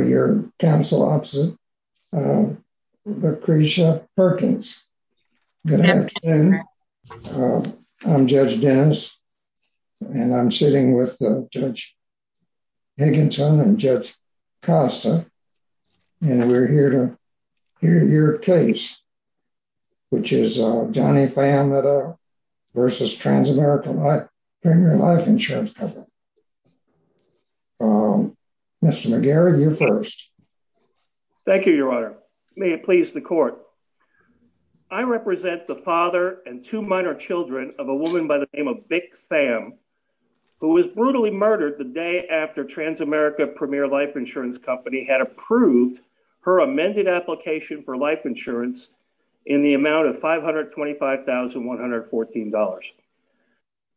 Mr. McGarry, you're first. Thank you. Good afternoon. Good afternoon. I'm Judge Dennis, and I'm sitting with Judge Higginson and Judge Costa, and we're here to hear your case, which is Johnny Pham v. TransAmerica Premier Life Insurance Company. Mr. McGarry, you're first. Thank you, Your Honor. May it please the court. I represent the father and two minor children of a woman by the name of Bic Pham, who was brutally murdered the day after TransAmerica Premier Life Insurance Company had approved her amended application for life insurance in the amount of $525,114.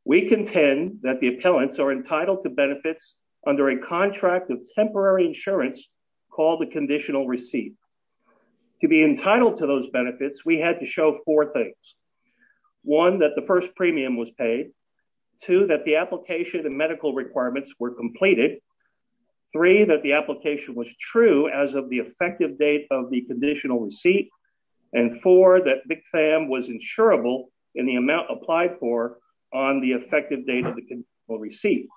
We contend that the appellants are entitled to benefits under a contract of temporary insurance called the conditional receipt. To be entitled to those benefits, we had to show four things. One, that the first premium was paid. Two, that the application and medical requirements were completed. Three, that the application was true as of the effective date of the conditional receipt. And four, that Bic Pham was insurable in the amount applied for on the effective date of the conditional receipt.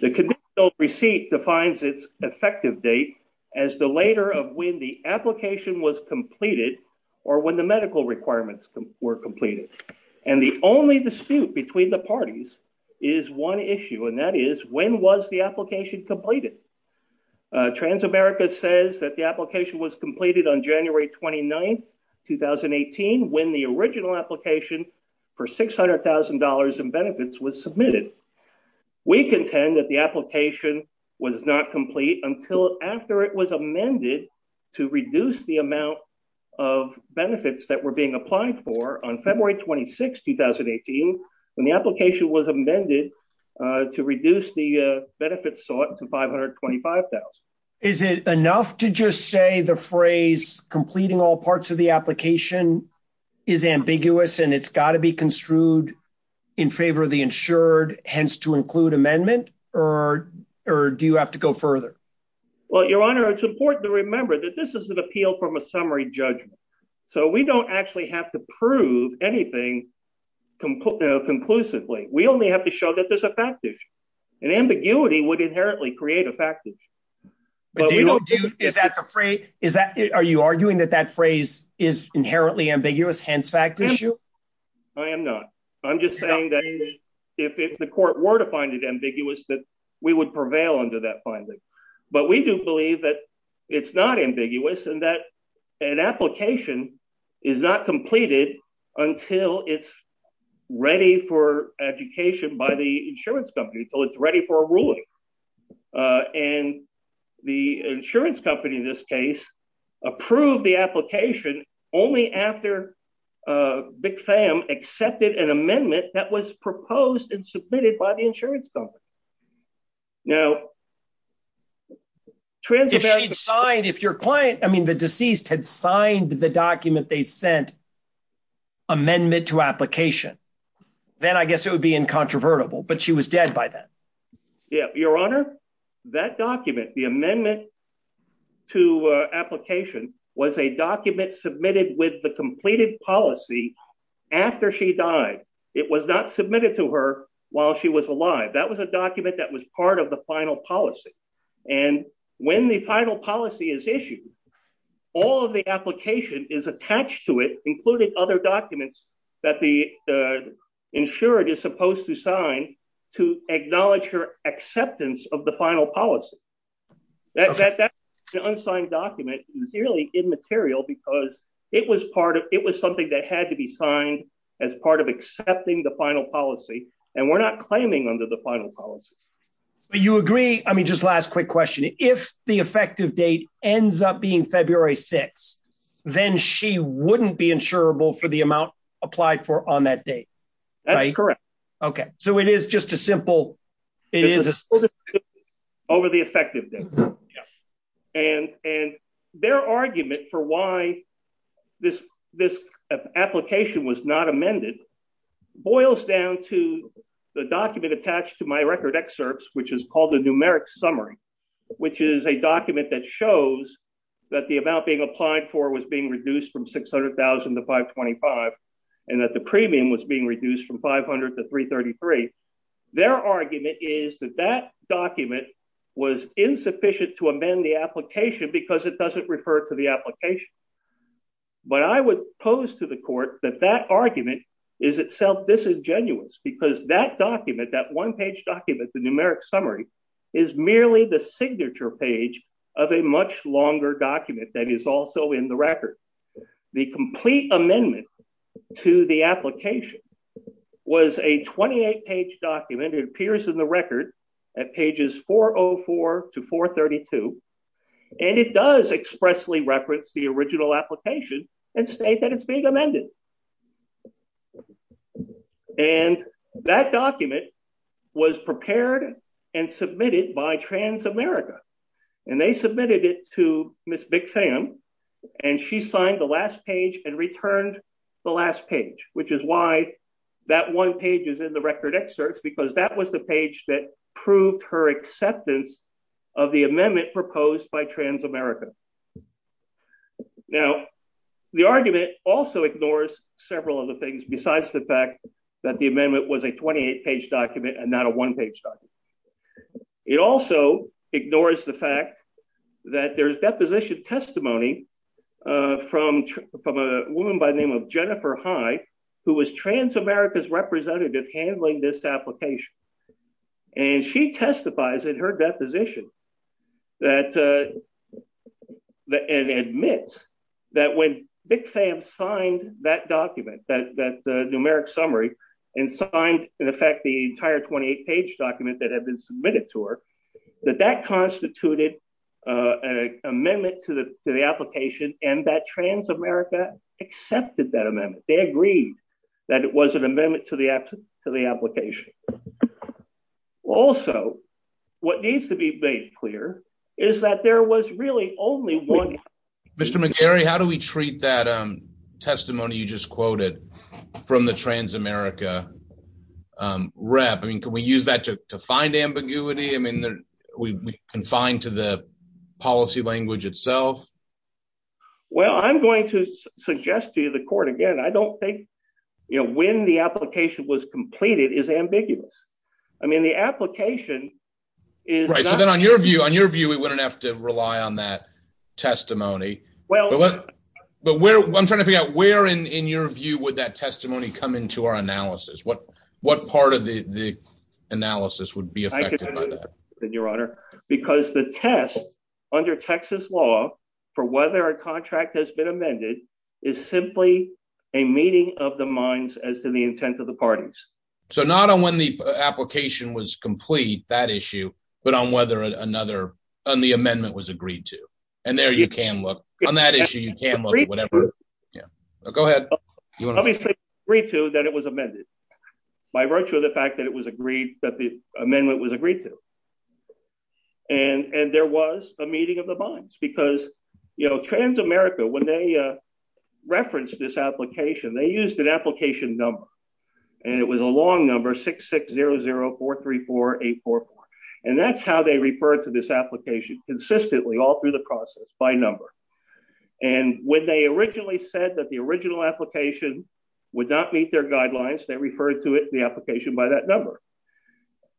The conditional receipt defines its effective date as the later of when the application was completed or when the medical requirements were completed. And the only dispute between the parties is one issue, and that is, when was the application completed? TransAmerica says that the application was completed on January 29, 2018, when the original application for $600,000 in benefits was submitted. We contend that the application was not complete until after it was amended to reduce the amount of benefits that were being applied for on February 26, 2018, when the application was Is it enough to just say the phrase completing all parts of the application is ambiguous and it's got to be construed in favor of the insured, hence to include amendment? Or do you have to go further? Well, Your Honor, it's important to remember that this is an appeal from a summary judgment. So we don't actually have to prove anything conclusively. We only have to show that there's a fact issue. And ambiguity would inherently create a fact issue. Are you arguing that that phrase is inherently ambiguous, hence fact issue? I am not. I'm just saying that if the court were to find it ambiguous, that we would prevail under that finding. But we do believe that it's not ambiguous and that an application is not completed until it's ready for education by the insurance company. So it's ready for a ruling. And the insurance company, in this case, approved the application only after Big Fam accepted an amendment that was proposed and submitted by the insurance company. Now, if your client, I mean, the deceased had signed the document they sent amendment to application, then I guess it would be incontrovertible. But she was dead by then. Your Honor, that document, the amendment to application was a document submitted with the completed policy after she died. It was not submitted to her while she was alive. That was a document that was part of the final policy. And when the final policy is issued, all of the application is attached to it, including other documents that the insured is supposed to sign to acknowledge her acceptance of the final policy. That unsigned document is really immaterial because it was something that had to be signed as part of accepting the final policy. And we're not claiming under the final policy. But you agree. I mean, just last quick question. If the effective date ends up being February 6, then she wouldn't be insurable for the amount applied for on that date. That's correct. OK. So it is just a simple it is over the effective date. And and their argument for why this this application was not amended boils down to the document attached to my record excerpts, which is called the numeric summary, which is a document that shows that the amount being applied for was being reduced from 600000 to 525 and that the premium was being reduced from 500 to 333. Their argument is that that document was insufficient to amend the application because it doesn't refer to the application. But I would pose to the court that that argument is itself disingenuous because that document that one page document, the numeric summary, is merely the signature page of a much longer document that is also in the record. The complete amendment to the application was a 28 page document. It appears in the record at pages 404 to 432. And it does expressly reference the original application and state that it's being amended. And that document was prepared and submitted by Transamerica, and they submitted it to the court where she signed the last page and returned the last page, which is why that one page is in the record excerpts, because that was the page that proved her acceptance of the amendment proposed by Transamerica. Now, the argument also ignores several of the things besides the fact that the amendment was a 28 page document and not a one page document. It also ignores the fact that there is deposition testimony from a woman by the name of Jennifer Hyde, who was Transamerica's representative handling this application. And she testifies in her deposition and admits that when BICFAM signed that document, that had been submitted to her, that that constituted an amendment to the application and that Transamerica accepted that amendment. They agreed that it was an amendment to the application. Also, what needs to be made clear is that there was really only one- Mr. McGarry, how do we treat that testimony you just quoted from the Transamerica rep? I mean, can we use that to find ambiguity? I mean, we confine to the policy language itself. Well, I'm going to suggest to you the court again, I don't think, you know, when the application was completed is ambiguous. I mean, the application is. Right. So then on your view, on your view, we wouldn't have to rely on that testimony. Well, but where I'm trying to figure out where in your view would that testimony come into our analysis? What what part of the analysis would be affected by that? Your Honor, because the test under Texas law for whether a contract has been amended is simply a meeting of the minds as to the intent of the parties. So not on when the application was complete, that issue, but on whether another on the amendment was agreed to. And there you can look on that issue. You can look at whatever. Go ahead. Three, two, that it was amended by virtue of the fact that it was agreed that the amendment was agreed to. And there was a meeting of the minds because, you know, trans-America, when they referenced this application, they used an application number and it was a long number, six, six, zero, zero, four, three, four, eight, four, four. And that's how they refer to this application consistently all through the process by number. And when they originally said that the original application would not meet their guidelines, they referred to it in the application by that number.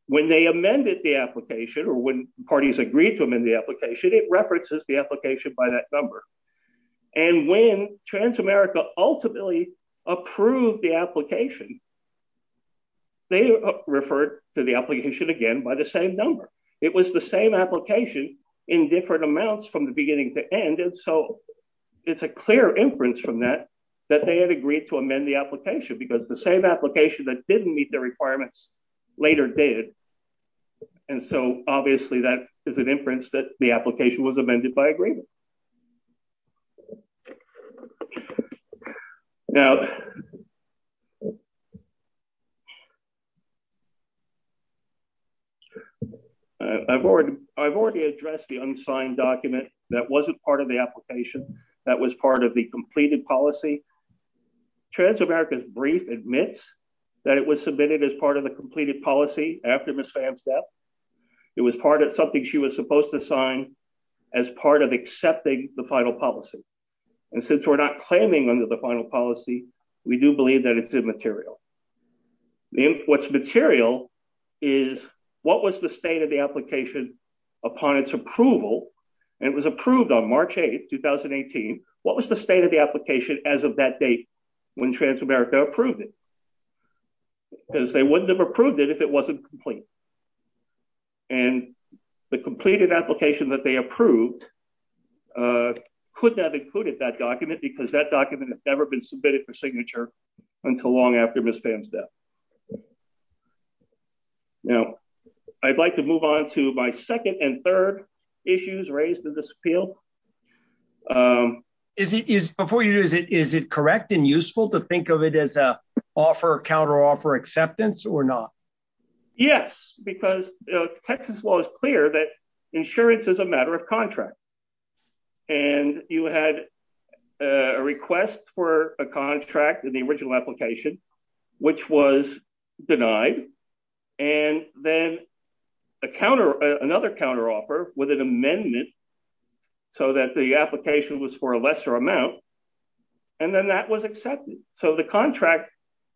When they amended the application or when parties agreed to them in the application, it references the application by that number. And when trans-America ultimately approved the application. They referred to the application again by the same number, it was the same application in different amounts from the beginning to end. And so it's a clear inference from that, that they had agreed to amend the application because the same application that didn't meet the requirements later did. And so obviously that is an inference that the application was amended by agreement. Now. I've already, I've already addressed the unsigned document that wasn't part of the application that was part of the completed policy. Trans-America's brief admits that it was submitted as part of the completed policy after Ms. Pham's death. It was part of something she was supposed to sign as part of accepting the final policy. And since we're not claiming under the final policy, we do believe that it's immaterial. What's material is what was the state of the application upon its approval? And it was approved on March 8th, 2018. What was the state of the application as of that date when trans-America approved it? Because they wouldn't have approved it if it wasn't complete. And the completed application that they approved could not have included that document because that document had never been submitted for signature until long after Ms. Pham's death. Now, I'd like to move on to my second and third issues raised in this appeal. Is it, before you do this, is it correct and useful to think of it as an offer, counter-offer acceptance or not? Yes, because Texas law is clear that insurance is a matter of contract. And you had a request for a contract in the original application, which was denied. And then another counter-offer with an amendment so that the application was for a lesser amount. And then that was accepted. So the contract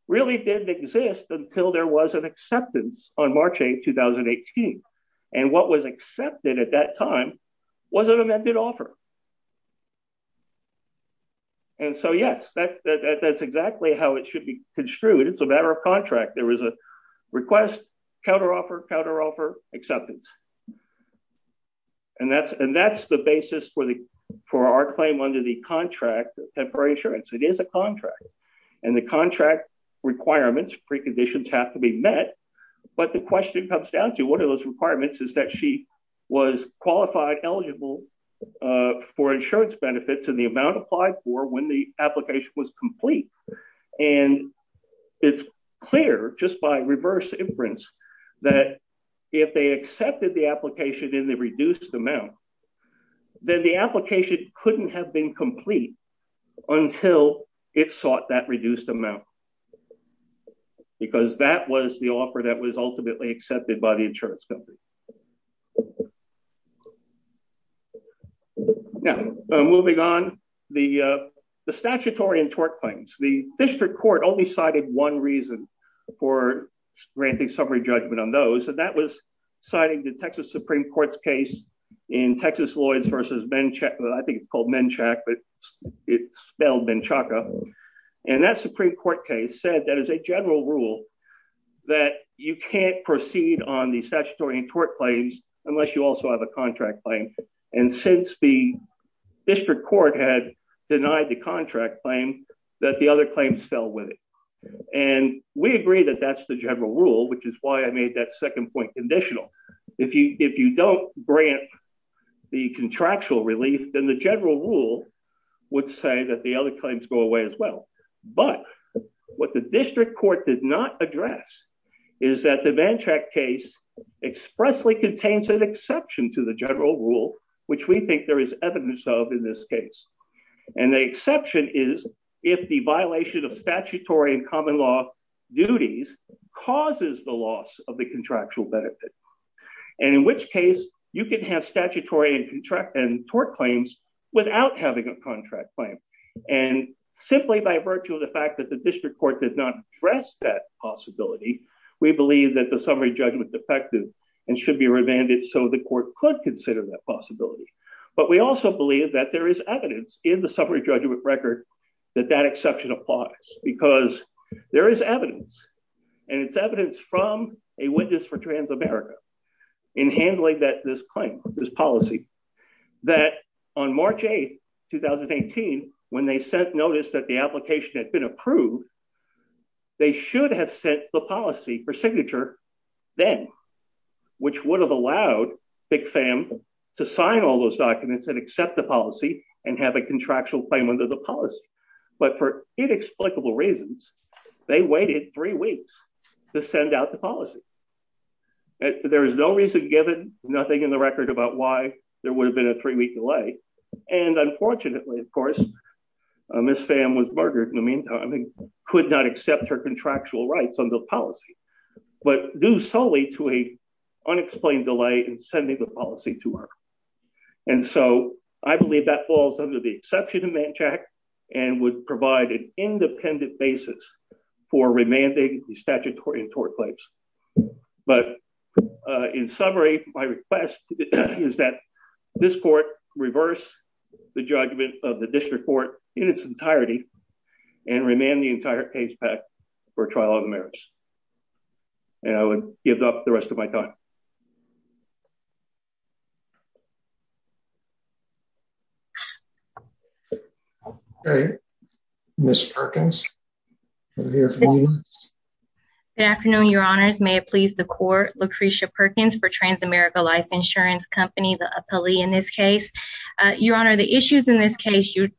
really didn't exist until there was an acceptance on March 8th, 2018. And what was accepted at that time was an amended offer. And so, yes, that's exactly how it should be construed. It's a matter of contract. There was a request, counter-offer, counter-offer, acceptance. And that's the basis for our claim under the contract, temporary insurance. It is a contract. And the contract requirements, preconditions have to be met. But the question comes down to what are those requirements is that she was qualified, eligible for insurance benefits and the amount applied for when the application was complete. And it's clear just by reverse inference that if they accepted the application in the reduced amount, then the application couldn't have been complete until it sought that reduced amount. Because that was the offer that was ultimately accepted by the insurance company. Now, moving on, the statutory and tort claims. The district court only cited one reason for granting summary judgment on those. And that was citing the Texas Supreme Court's case in Texas Lloyds versus Menchaca. I think it's called Menchaca, but it's spelled Menchaca. And that Supreme Court case said that is a general rule that you can't proceed on the statutory and tort claims unless you also have a contract claim. And since the district court had denied the contract claim, that the other claims fell with it. And we agree that that's the general rule, which is why I made that second point conditional. If you don't grant the contractual relief, then the general rule would say that the other claims go away as well. But what the district court did not address is that the Menchaca case expressly contains an exception to the general rule, which we think there is evidence of in this case. And the exception is if the violation of statutory and common law duties causes the loss of the contractual benefit. And in which case you can have statutory and tort claims without having a contract claim. And simply by virtue of the fact that the district court did not address that possibility, we believe that the summary judgment defective and should be revanded so the court could consider that possibility. But we also believe that there is evidence in the summary judgment record that that exception applies because there is evidence. And it's evidence from a witness for Transamerica in handling that this claim, this policy, that on March 8, 2018, when they sent notice that the application had been approved, they should have sent the policy for signature, then, which would have allowed Big Fam to sign all those documents and accept the policy and have a contractual claim under the policy. But for inexplicable reasons, they waited three weeks to send out the policy. There is no reason given, nothing in the record about why there would have been a three week delay. And unfortunately, of course, Miss Fam was murdered in the meantime and could not accept her contractual rights on the policy, but due solely to a unexplained delay in sending the policy to her. And so I believe that falls under the exception of Manchac and would provide an independent basis for remanding the statutory and tort claims. But in summary, my request is that this court reverse the judgment of the district court in its entirety and remand the entire case back for trial of the merits. And I would give up the rest of my time. Miss Perkins. Good afternoon, Your Honors, may it please the court. Lucretia Perkins for Transamerica Life Insurance Company, the appellee in this case. Your Honor, the issues in this case, you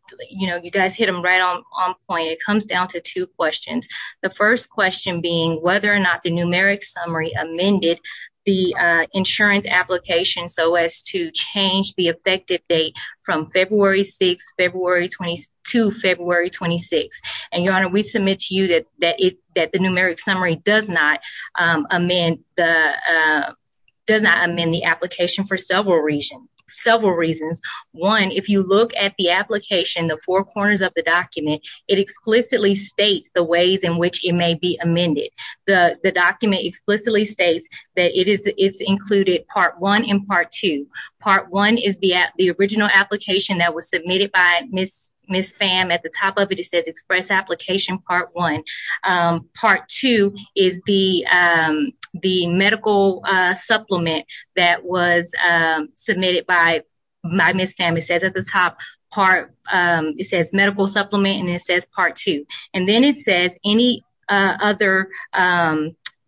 know, you guys hit them right on point. It comes down to two questions. The first question being whether or not the numeric summary amended the insurance application so as to change the effective date from February 6, February 22, February 26. And Your Honor, we submit to you that that it that the numeric summary does not amend the does not amend the application for several reasons, several reasons. One, if you look at the application, the four corners of the document, it explicitly states the ways in which it may be amended. The document explicitly states that it is. It's included part one in part two. Part one is the the original application that was submitted by Miss Miss Pham at the top of it. It says express application part one. Part two is the the medical supplement that was submitted by my Miss Pham. It says at the top part it says medical supplement and it says part two. And then it says any other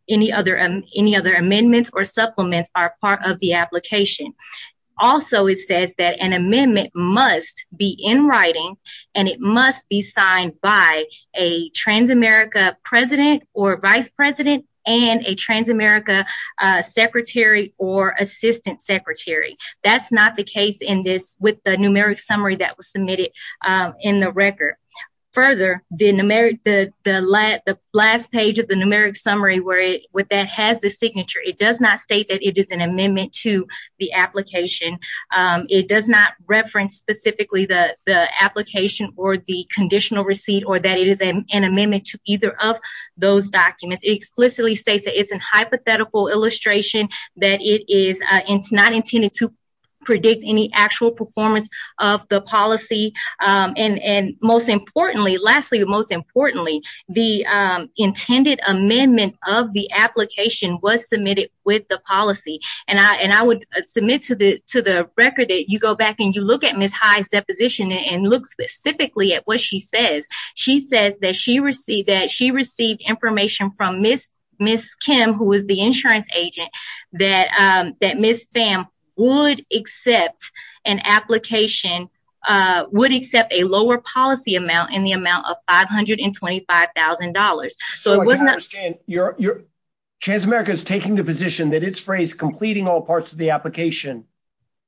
any other any other amendments or supplements are part of the application. Also, it says that an amendment must be in writing and it must be signed by a Transamerica president or vice president and a Transamerica secretary or assistant secretary. That's not the case in this with the numeric summary that was submitted in the record. Further, the numeric, the last page of the numeric summary where it has the signature, it does not state that it is an amendment to the application. It does not reference specifically the application or the conditional receipt or that it is an amendment to either of those documents. It explicitly states that it's a hypothetical illustration that it is not intended to predict any actual performance of the policy. And most importantly, lastly, most importantly, the intended amendment of the application was submitted with the policy. And I and I would submit to the to the record that you go back and you look at Miss High's deposition and look specifically at what she says. She says that she received that she received information from Miss Miss Kim, who was the insurance agent that that Miss Pham would accept an application, would accept a lower policy amount in the amount of five hundred and twenty five thousand dollars. So it was not your your Transamerica is taking the position that its phrase completing all parts of the application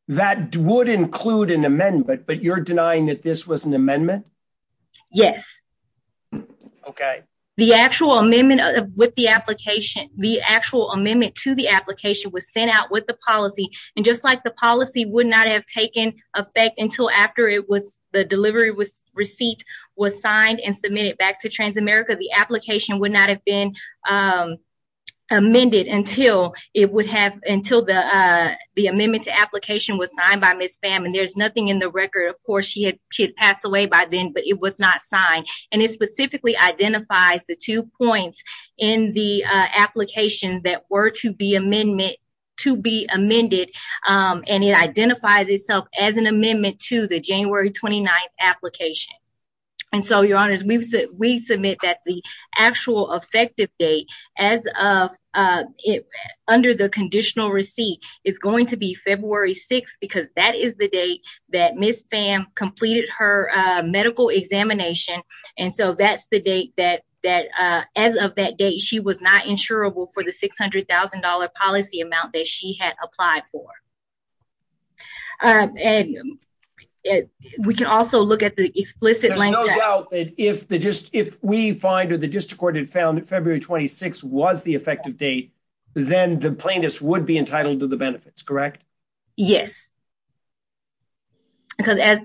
that would include an amendment. But you're denying that this was an amendment. Yes. OK. The actual amendment with the application, the actual amendment to the application was sent out with the policy. And just like the policy would not have taken effect until after it was the delivery was receipt was signed and submitted back to Transamerica. The application would not have been amended until it would have until the the amendment to application was signed by Miss Pham. And there's nothing in the record. Of course, she had passed away by then, but it was not signed. And it specifically identifies the two points in the application that were to be amendment to be amended. And it identifies itself as an amendment to the January twenty ninth application. And so, your honors, we said we submit that the actual effective date as of it under the conditional receipt is going to be February 6th, because that is the date that Miss Pham completed her medical examination. And so that's the date that that as of that date, she was not insurable for the six hundred thousand dollar policy amount that she had applied for. And we can also look at the explicit. There's no doubt that if the just if we find or the district court had found February 26 was the effective date, then the plaintiffs would be entitled to the benefits. Correct? Yes. Because as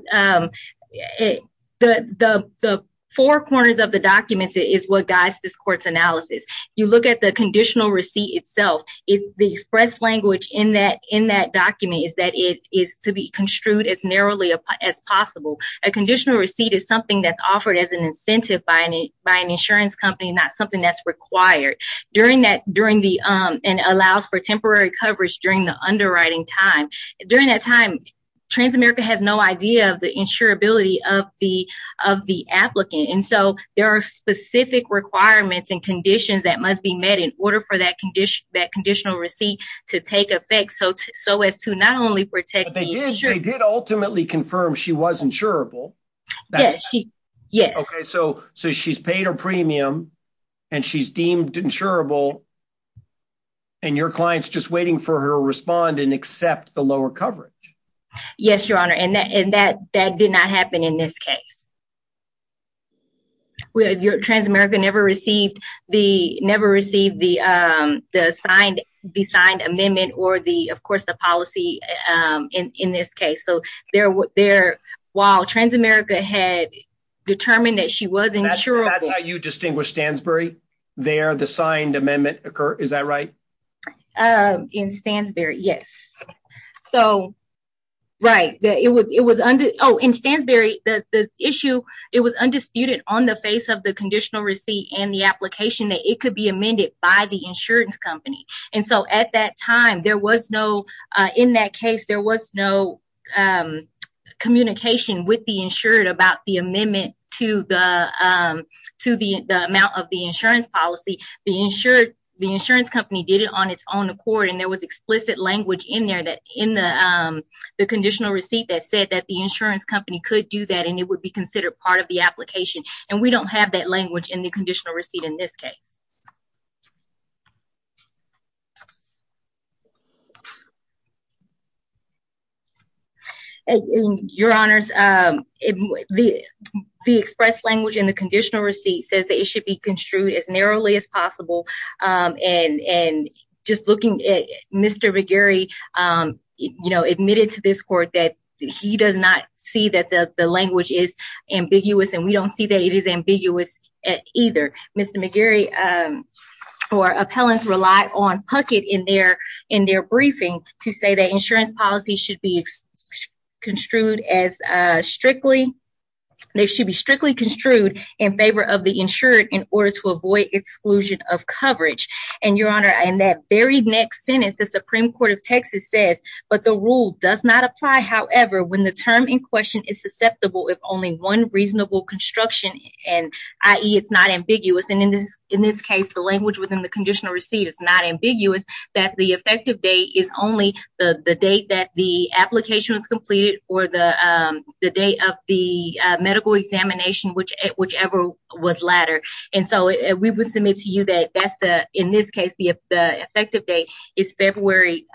the the four corners of the documents is what guides this court's analysis. You look at the conditional receipt itself is the express language in that in that document is that it is to be construed as narrowly as possible. A conditional receipt is something that's offered as an incentive by any by an insurance company, not something that's required during that, during the and allows for temporary coverage during the underwriting time. During that time, Transamerica has no idea of the insurability of the of the applicant. And so there are specific requirements and conditions that must be met in order for that condition, that conditional receipt to take effect. So. So as to not only protect, they did ultimately confirm she was insurable. Yes. Yes. OK, so. So she's paid her premium and she's deemed insurable. And your client's just waiting for her respond and accept the lower coverage. Yes, your honor. And that and that that did not happen in this case. Your Transamerica never received the never received the the signed the signed amendment or the of course, the policy in this case. So there were there while Transamerica had determined that she was insurable. You distinguish Stansbury there. The signed amendment occur. Is that right? In Stansbury. Yes. So. Right. It was it was under. Oh, in Stansbury. The issue. It was undisputed on the face of the conditional receipt and the application that it could be amended by the insurance company. And so at that time, there was no in that case, there was no communication with the insured about the amendment to the to the amount of the insurance policy. The insured the insurance company did it on its own accord. And there was explicit language in there that in the conditional receipt that said that the insurance company could do that and it would be considered part of the application. And we don't have that language in the conditional receipt in this case. Your honors, the express language in the conditional receipt says that it should be construed as narrowly as possible. And just looking at Mr. McGarry admitted to this court that he does not see that the language is ambiguous and we don't see that it is ambiguous either. Mr. McGarry or appellants rely on Puckett in their in their briefing to say that insurance policy should be construed as strictly. They should be strictly construed in favor of the insured in order to avoid exclusion of coverage. And your honor, in that very next sentence, the Supreme Court of Texas says, but the rule does not apply. However, when the term in question is susceptible, if only one reasonable construction and IE, it's not ambiguous. And in this in this case, the language within the conditional receipt is not ambiguous. That the effective date is only the date that the application is completed or the date of the medical examination, which whichever was latter. And so we would submit to you that in this case, the effective date is February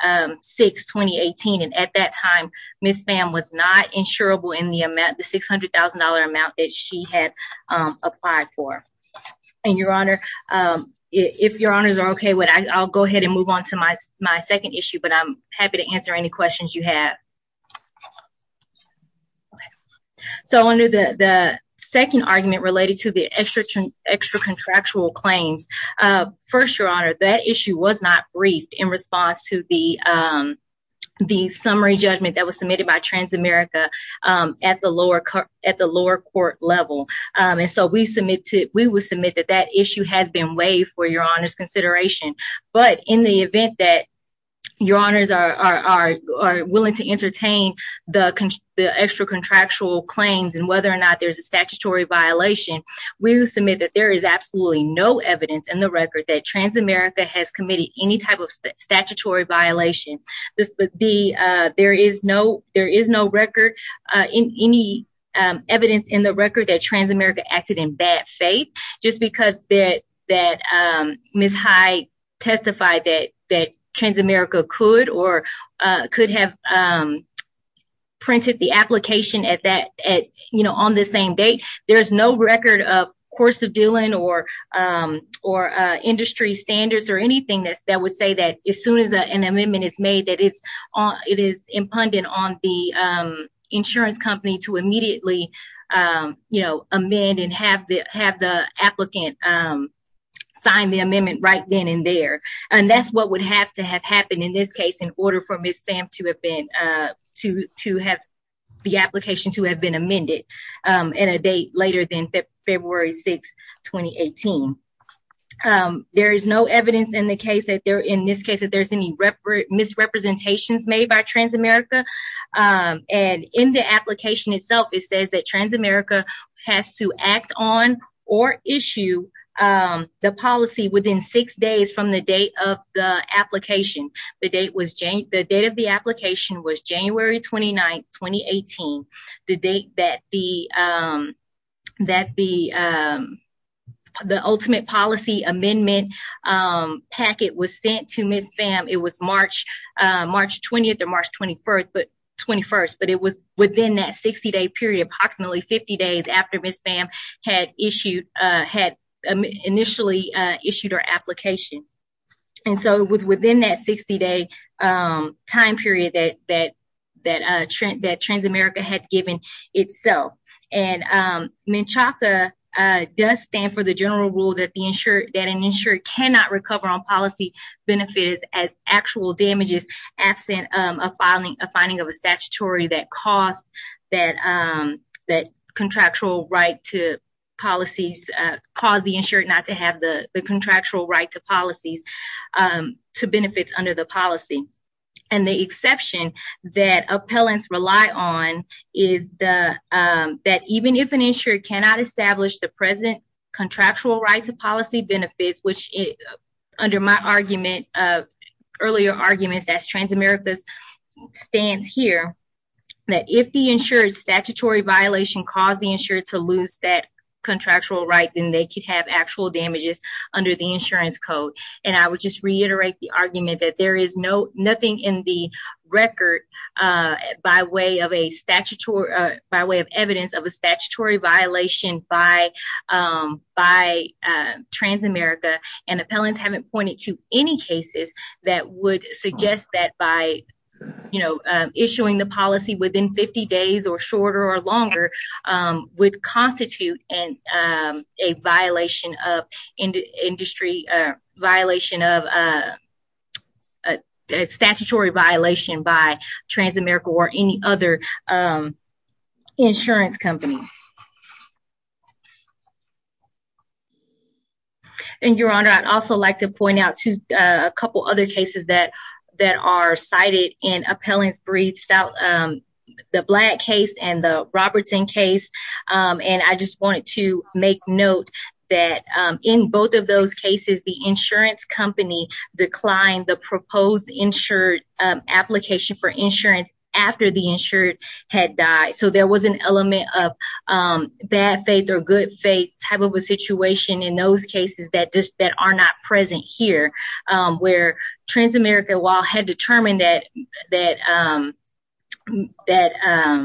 6, 2018. And at that time, Miss Pham was not insurable in the amount, the six hundred thousand dollar amount that she had applied for. And your honor, if your honors are OK with, I'll go ahead and move on to my my second issue. But I'm happy to answer any questions you have. So under the second argument related to the extra extra contractual claims. First, your honor, that issue was not briefed in response to the the summary judgment that was submitted by Transamerica at the lower at the lower court level. And so we submit to we would submit that that issue has been waived for your honors consideration. But in the event that your honors are willing to entertain the extra contractual claims and whether or not there's a statutory violation, we will submit that there is absolutely no evidence in the record that Transamerica has committed any type of statutory violation. This would be there is no there is no record in any evidence in the record that Transamerica acted in bad faith. Just because that that Miss High testified that that Transamerica could or could have printed the application at that at, you know, on the same date. There is no record of course of dealing or or industry standards or anything that that would say that as soon as an amendment is made, it is impugnant on the insurance company to immediately, you know, amend and have the have the applicant sign the amendment right then and there. And that's what would have to have happened in this case in order for Miss Pham to have been to to have the application to have been amended in a date later than February 6, 2018. There is no evidence in the case that there in this case that there's any misrepresentations made by Transamerica. And in the application itself, it says that Transamerica has to act on or issue the policy within six days from the date of the application. The date was the date of the application was January 29, 2018, the date that the that the the ultimate policy amendment packet was sent to Miss Pham. It was March, March 20th to March 21st, but 21st, but it was within that 60 day period, approximately 50 days after Miss Pham had issued had initially issued her application. And so it was within that 60 day time period that that that that Transamerica had given itself. And Menchaca does stand for the general rule that the insured that an insured cannot recover on policy benefits as actual damages, absent of filing a finding of a statutory that cost that that contractual right to policies cause the insured not to have the contractual right to policies to benefits under the policy. And the exception that appellants rely on is the that even if an insurer cannot establish the present contractual right to policy benefits, which under my argument of earlier arguments as Transamerica stands here, that if the insured statutory violation caused the insured to lose that contractual right, then they could have actual damages under the insurance code. And I would just reiterate the argument that there is no nothing in the record by way of a statutory by way of evidence of a statutory violation by by Transamerica. And appellants haven't pointed to any cases that would suggest that by, you know, issuing the policy within 50 days or shorter or longer would constitute and a violation of industry violation of a statutory violation by Transamerica or any other insurance company. And your honor, I'd also like to point out to a couple other cases that that are cited in appellants briefs out the black case and the Robertson case. And I just wanted to make note that in both of those cases, the insurance company declined the proposed insured application for insurance after the insured had died. So there was an element of bad faith or good faith type of a situation in those cases that just that are not present here where Transamerica, while had determined that that that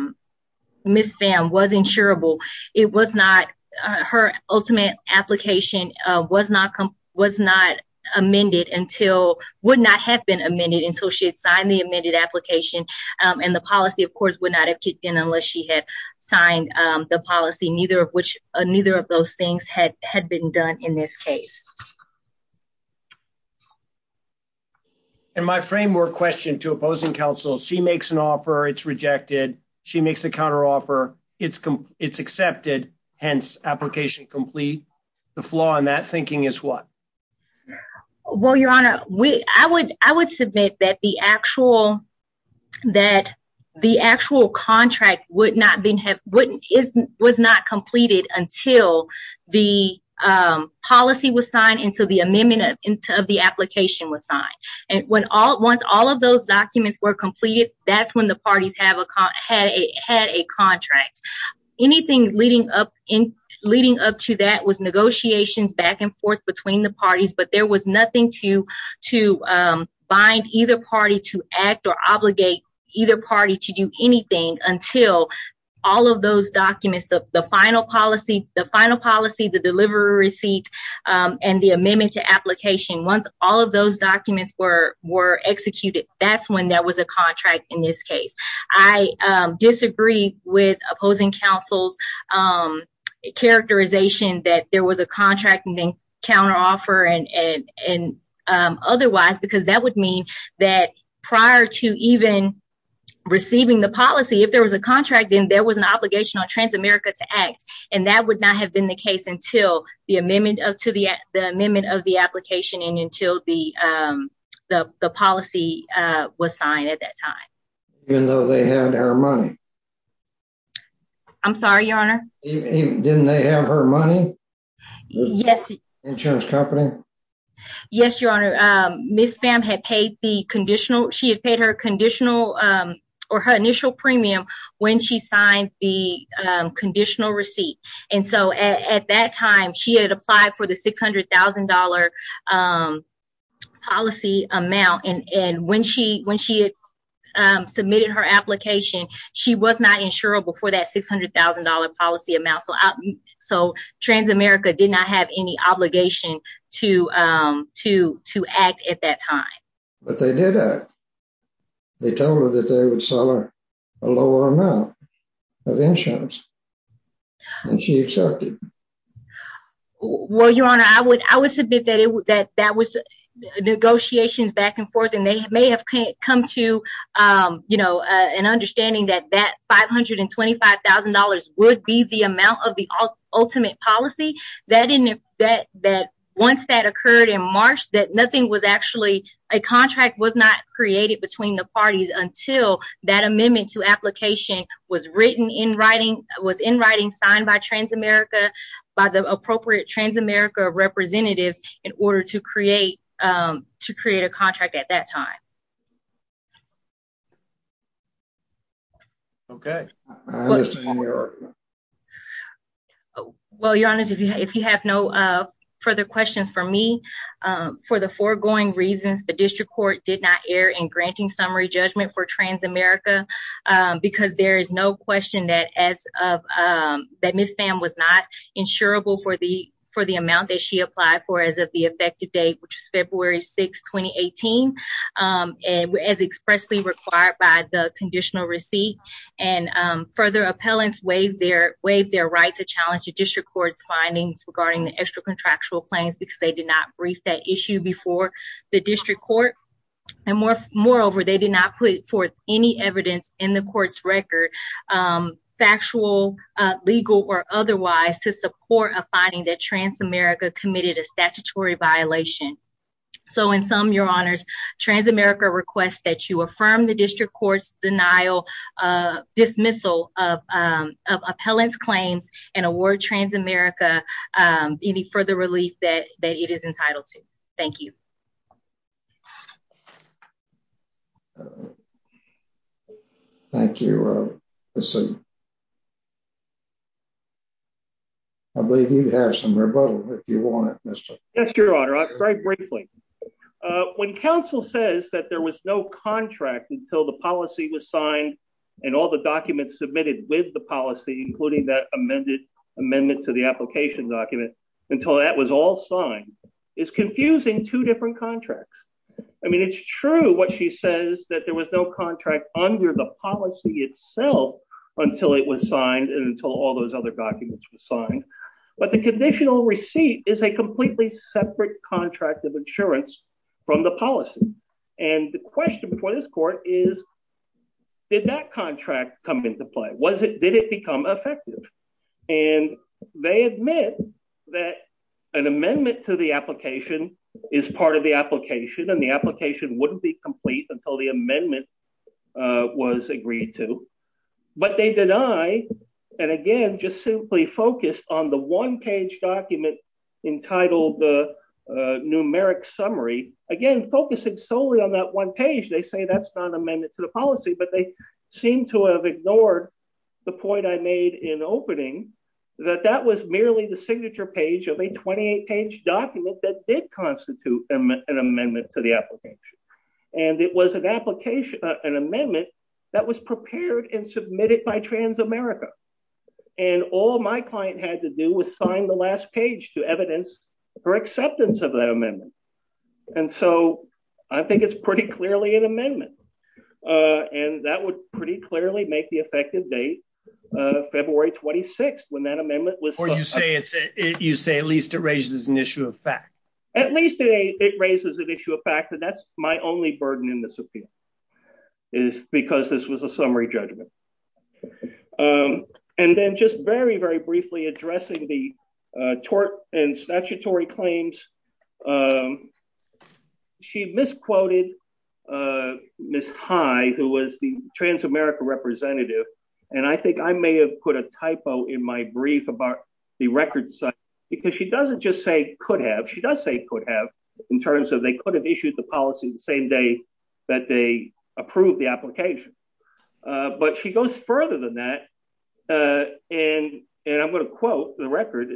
Miss Pham was insurable. It was not her ultimate application was not was not amended until would not have been amended until she had signed the amended application. And the policy, of course, would not have kicked in unless she had signed the policy. Neither of which neither of those things had had been done in this case. And my framework question to opposing counsel, she makes an offer. It's rejected. She makes a counter offer. It's it's accepted. Hence, application complete. The flaw in that thinking is what? Well, your honor, we I would I would submit that the actual that the actual contract would not be have wouldn't is was not completed until the policy was signed into the amendment of the application was signed. And when all once all of those documents were completed, that's when the parties have had a contract. Anything leading up in leading up to that was negotiations back and forth between the parties. But there was nothing to to bind either party to act or obligate either party to do anything until all of those documents. The final policy, the final policy, the delivery receipt and the amendment to application. Once all of those documents were were executed, that's when there was a contract. In this case, I disagree with opposing counsel's characterization that there was a contract and then counter offer and and otherwise, because that would mean that prior to even receiving the policy, if there was a contract, then there was an obligation on Transamerica to act. And that would not have been the case until the amendment to the amendment of the application and until the the policy was signed at that time. You know, they had their money. I'm sorry, your honor. Didn't they have her money? Yes. Insurance company. Yes, your honor. Miss BAM had paid the conditional. She had paid her conditional or her initial premium when she signed the conditional receipt. And so at that time she had applied for the six hundred thousand dollar policy amount. And when she when she submitted her application, she was not insurable for that six hundred thousand dollar policy amount. So so Transamerica did not have any obligation to to to act at that time. But they did. They told her that they would sell her a lower amount of insurance. And she accepted. Well, your honor, I would I would submit that that that was negotiations back and forth. And they may have come to, you know, an understanding that that five hundred and twenty five thousand dollars would be the amount of the ultimate policy. That in that that once that occurred in March, that nothing was actually a contract was not created between the parties until that amendment to application was written in writing, was in writing signed by Transamerica by the appropriate Transamerica representatives in order to create to create a contract at that time. OK. Well, your honor, if you have no further questions for me, for the foregoing reasons, the district court did not err in granting summary judgment for Transamerica because there is no question that as of that, Ms. Pham was not insurable for the for the amount that she applied for as of the effective date, which is February 6, 2018, as expressly required by the conditional receipt. And further, appellants waived their waived their right to challenge the district court's findings regarding the extra contractual claims because they did not brief that issue before the district court. And more moreover, they did not put forth any evidence in the court's record, factual, legal or otherwise, to support a finding that Transamerica committed a statutory violation. So in sum, your honors, Transamerica requests that you affirm the district court's denial dismissal of appellant's claims and award Transamerica any further relief that it is entitled to. Thank you. Thank you. So. I believe you have some rebuttal if you want it, Mr. That's your honor. Very briefly, when counsel says that there was no contract until the policy was signed and all the documents submitted with the policy, including that amended amendment to the application document until that was all signed is confusing two different contracts. I mean, it's true what she says that there was no contract under the policy itself until it was signed and until all those other documents were signed. But the conditional receipt is a completely separate contract of insurance from the policy. And the question before this court is, did that contract come into play? Was it, did it become effective? And they admit that an amendment to the application is part of the application and the application wouldn't be complete until the amendment was agreed to. But they deny. And again, just simply focused on the one page document entitled the numeric summary, again, focusing solely on that one page. They say that's not an amendment to the policy, but they seem to have ignored the point I made in opening that that was merely the signature page of a 28 page document that did constitute an amendment to the application. And it was an application, an amendment that was prepared and submitted by Transamerica. And all my client had to do was sign the last page to evidence for acceptance of that amendment. And so I think it's pretty clearly an amendment. And that would pretty clearly make the effective date February 26th when that amendment was. You say at least it raises an issue of fact. At least it raises an issue of fact that that's my only burden in this appeal is because this was a summary judgment. And then just very, very briefly addressing the tort and statutory claims. She misquoted Miss High, who was the Transamerica representative. And I think I may have put a typo in my brief about the records because she doesn't just say could have. She does say could have in terms of they could have issued the policy the same day that they approved the application. But she goes further than that. And I'm going to quote the record.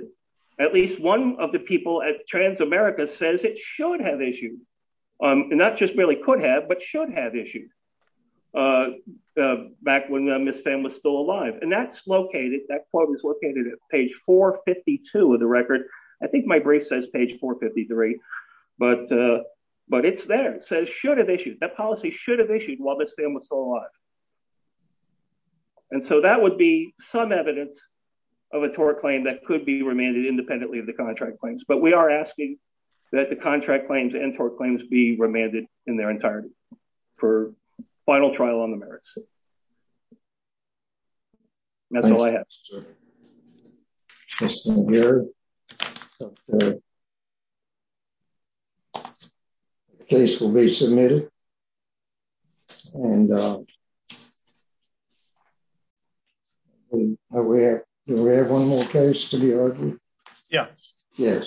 At least one of the people at Transamerica says it should have issued. And that just really could have but should have issued back when Miss Pham was still alive. And that's located that quote is located at page 452 of the record. I think my brief says page 453, but but it's there. It says should have issued that policy should have issued while Miss Pham was still alive. And so that would be some evidence of a tort claim that could be remanded independently of the contract claims. But we are asking that the contract claims and tort claims be remanded in their entirety for final trial on the merits. That's all I have to hear. Case will be submitted. And we have one more case to be. Yes, yes.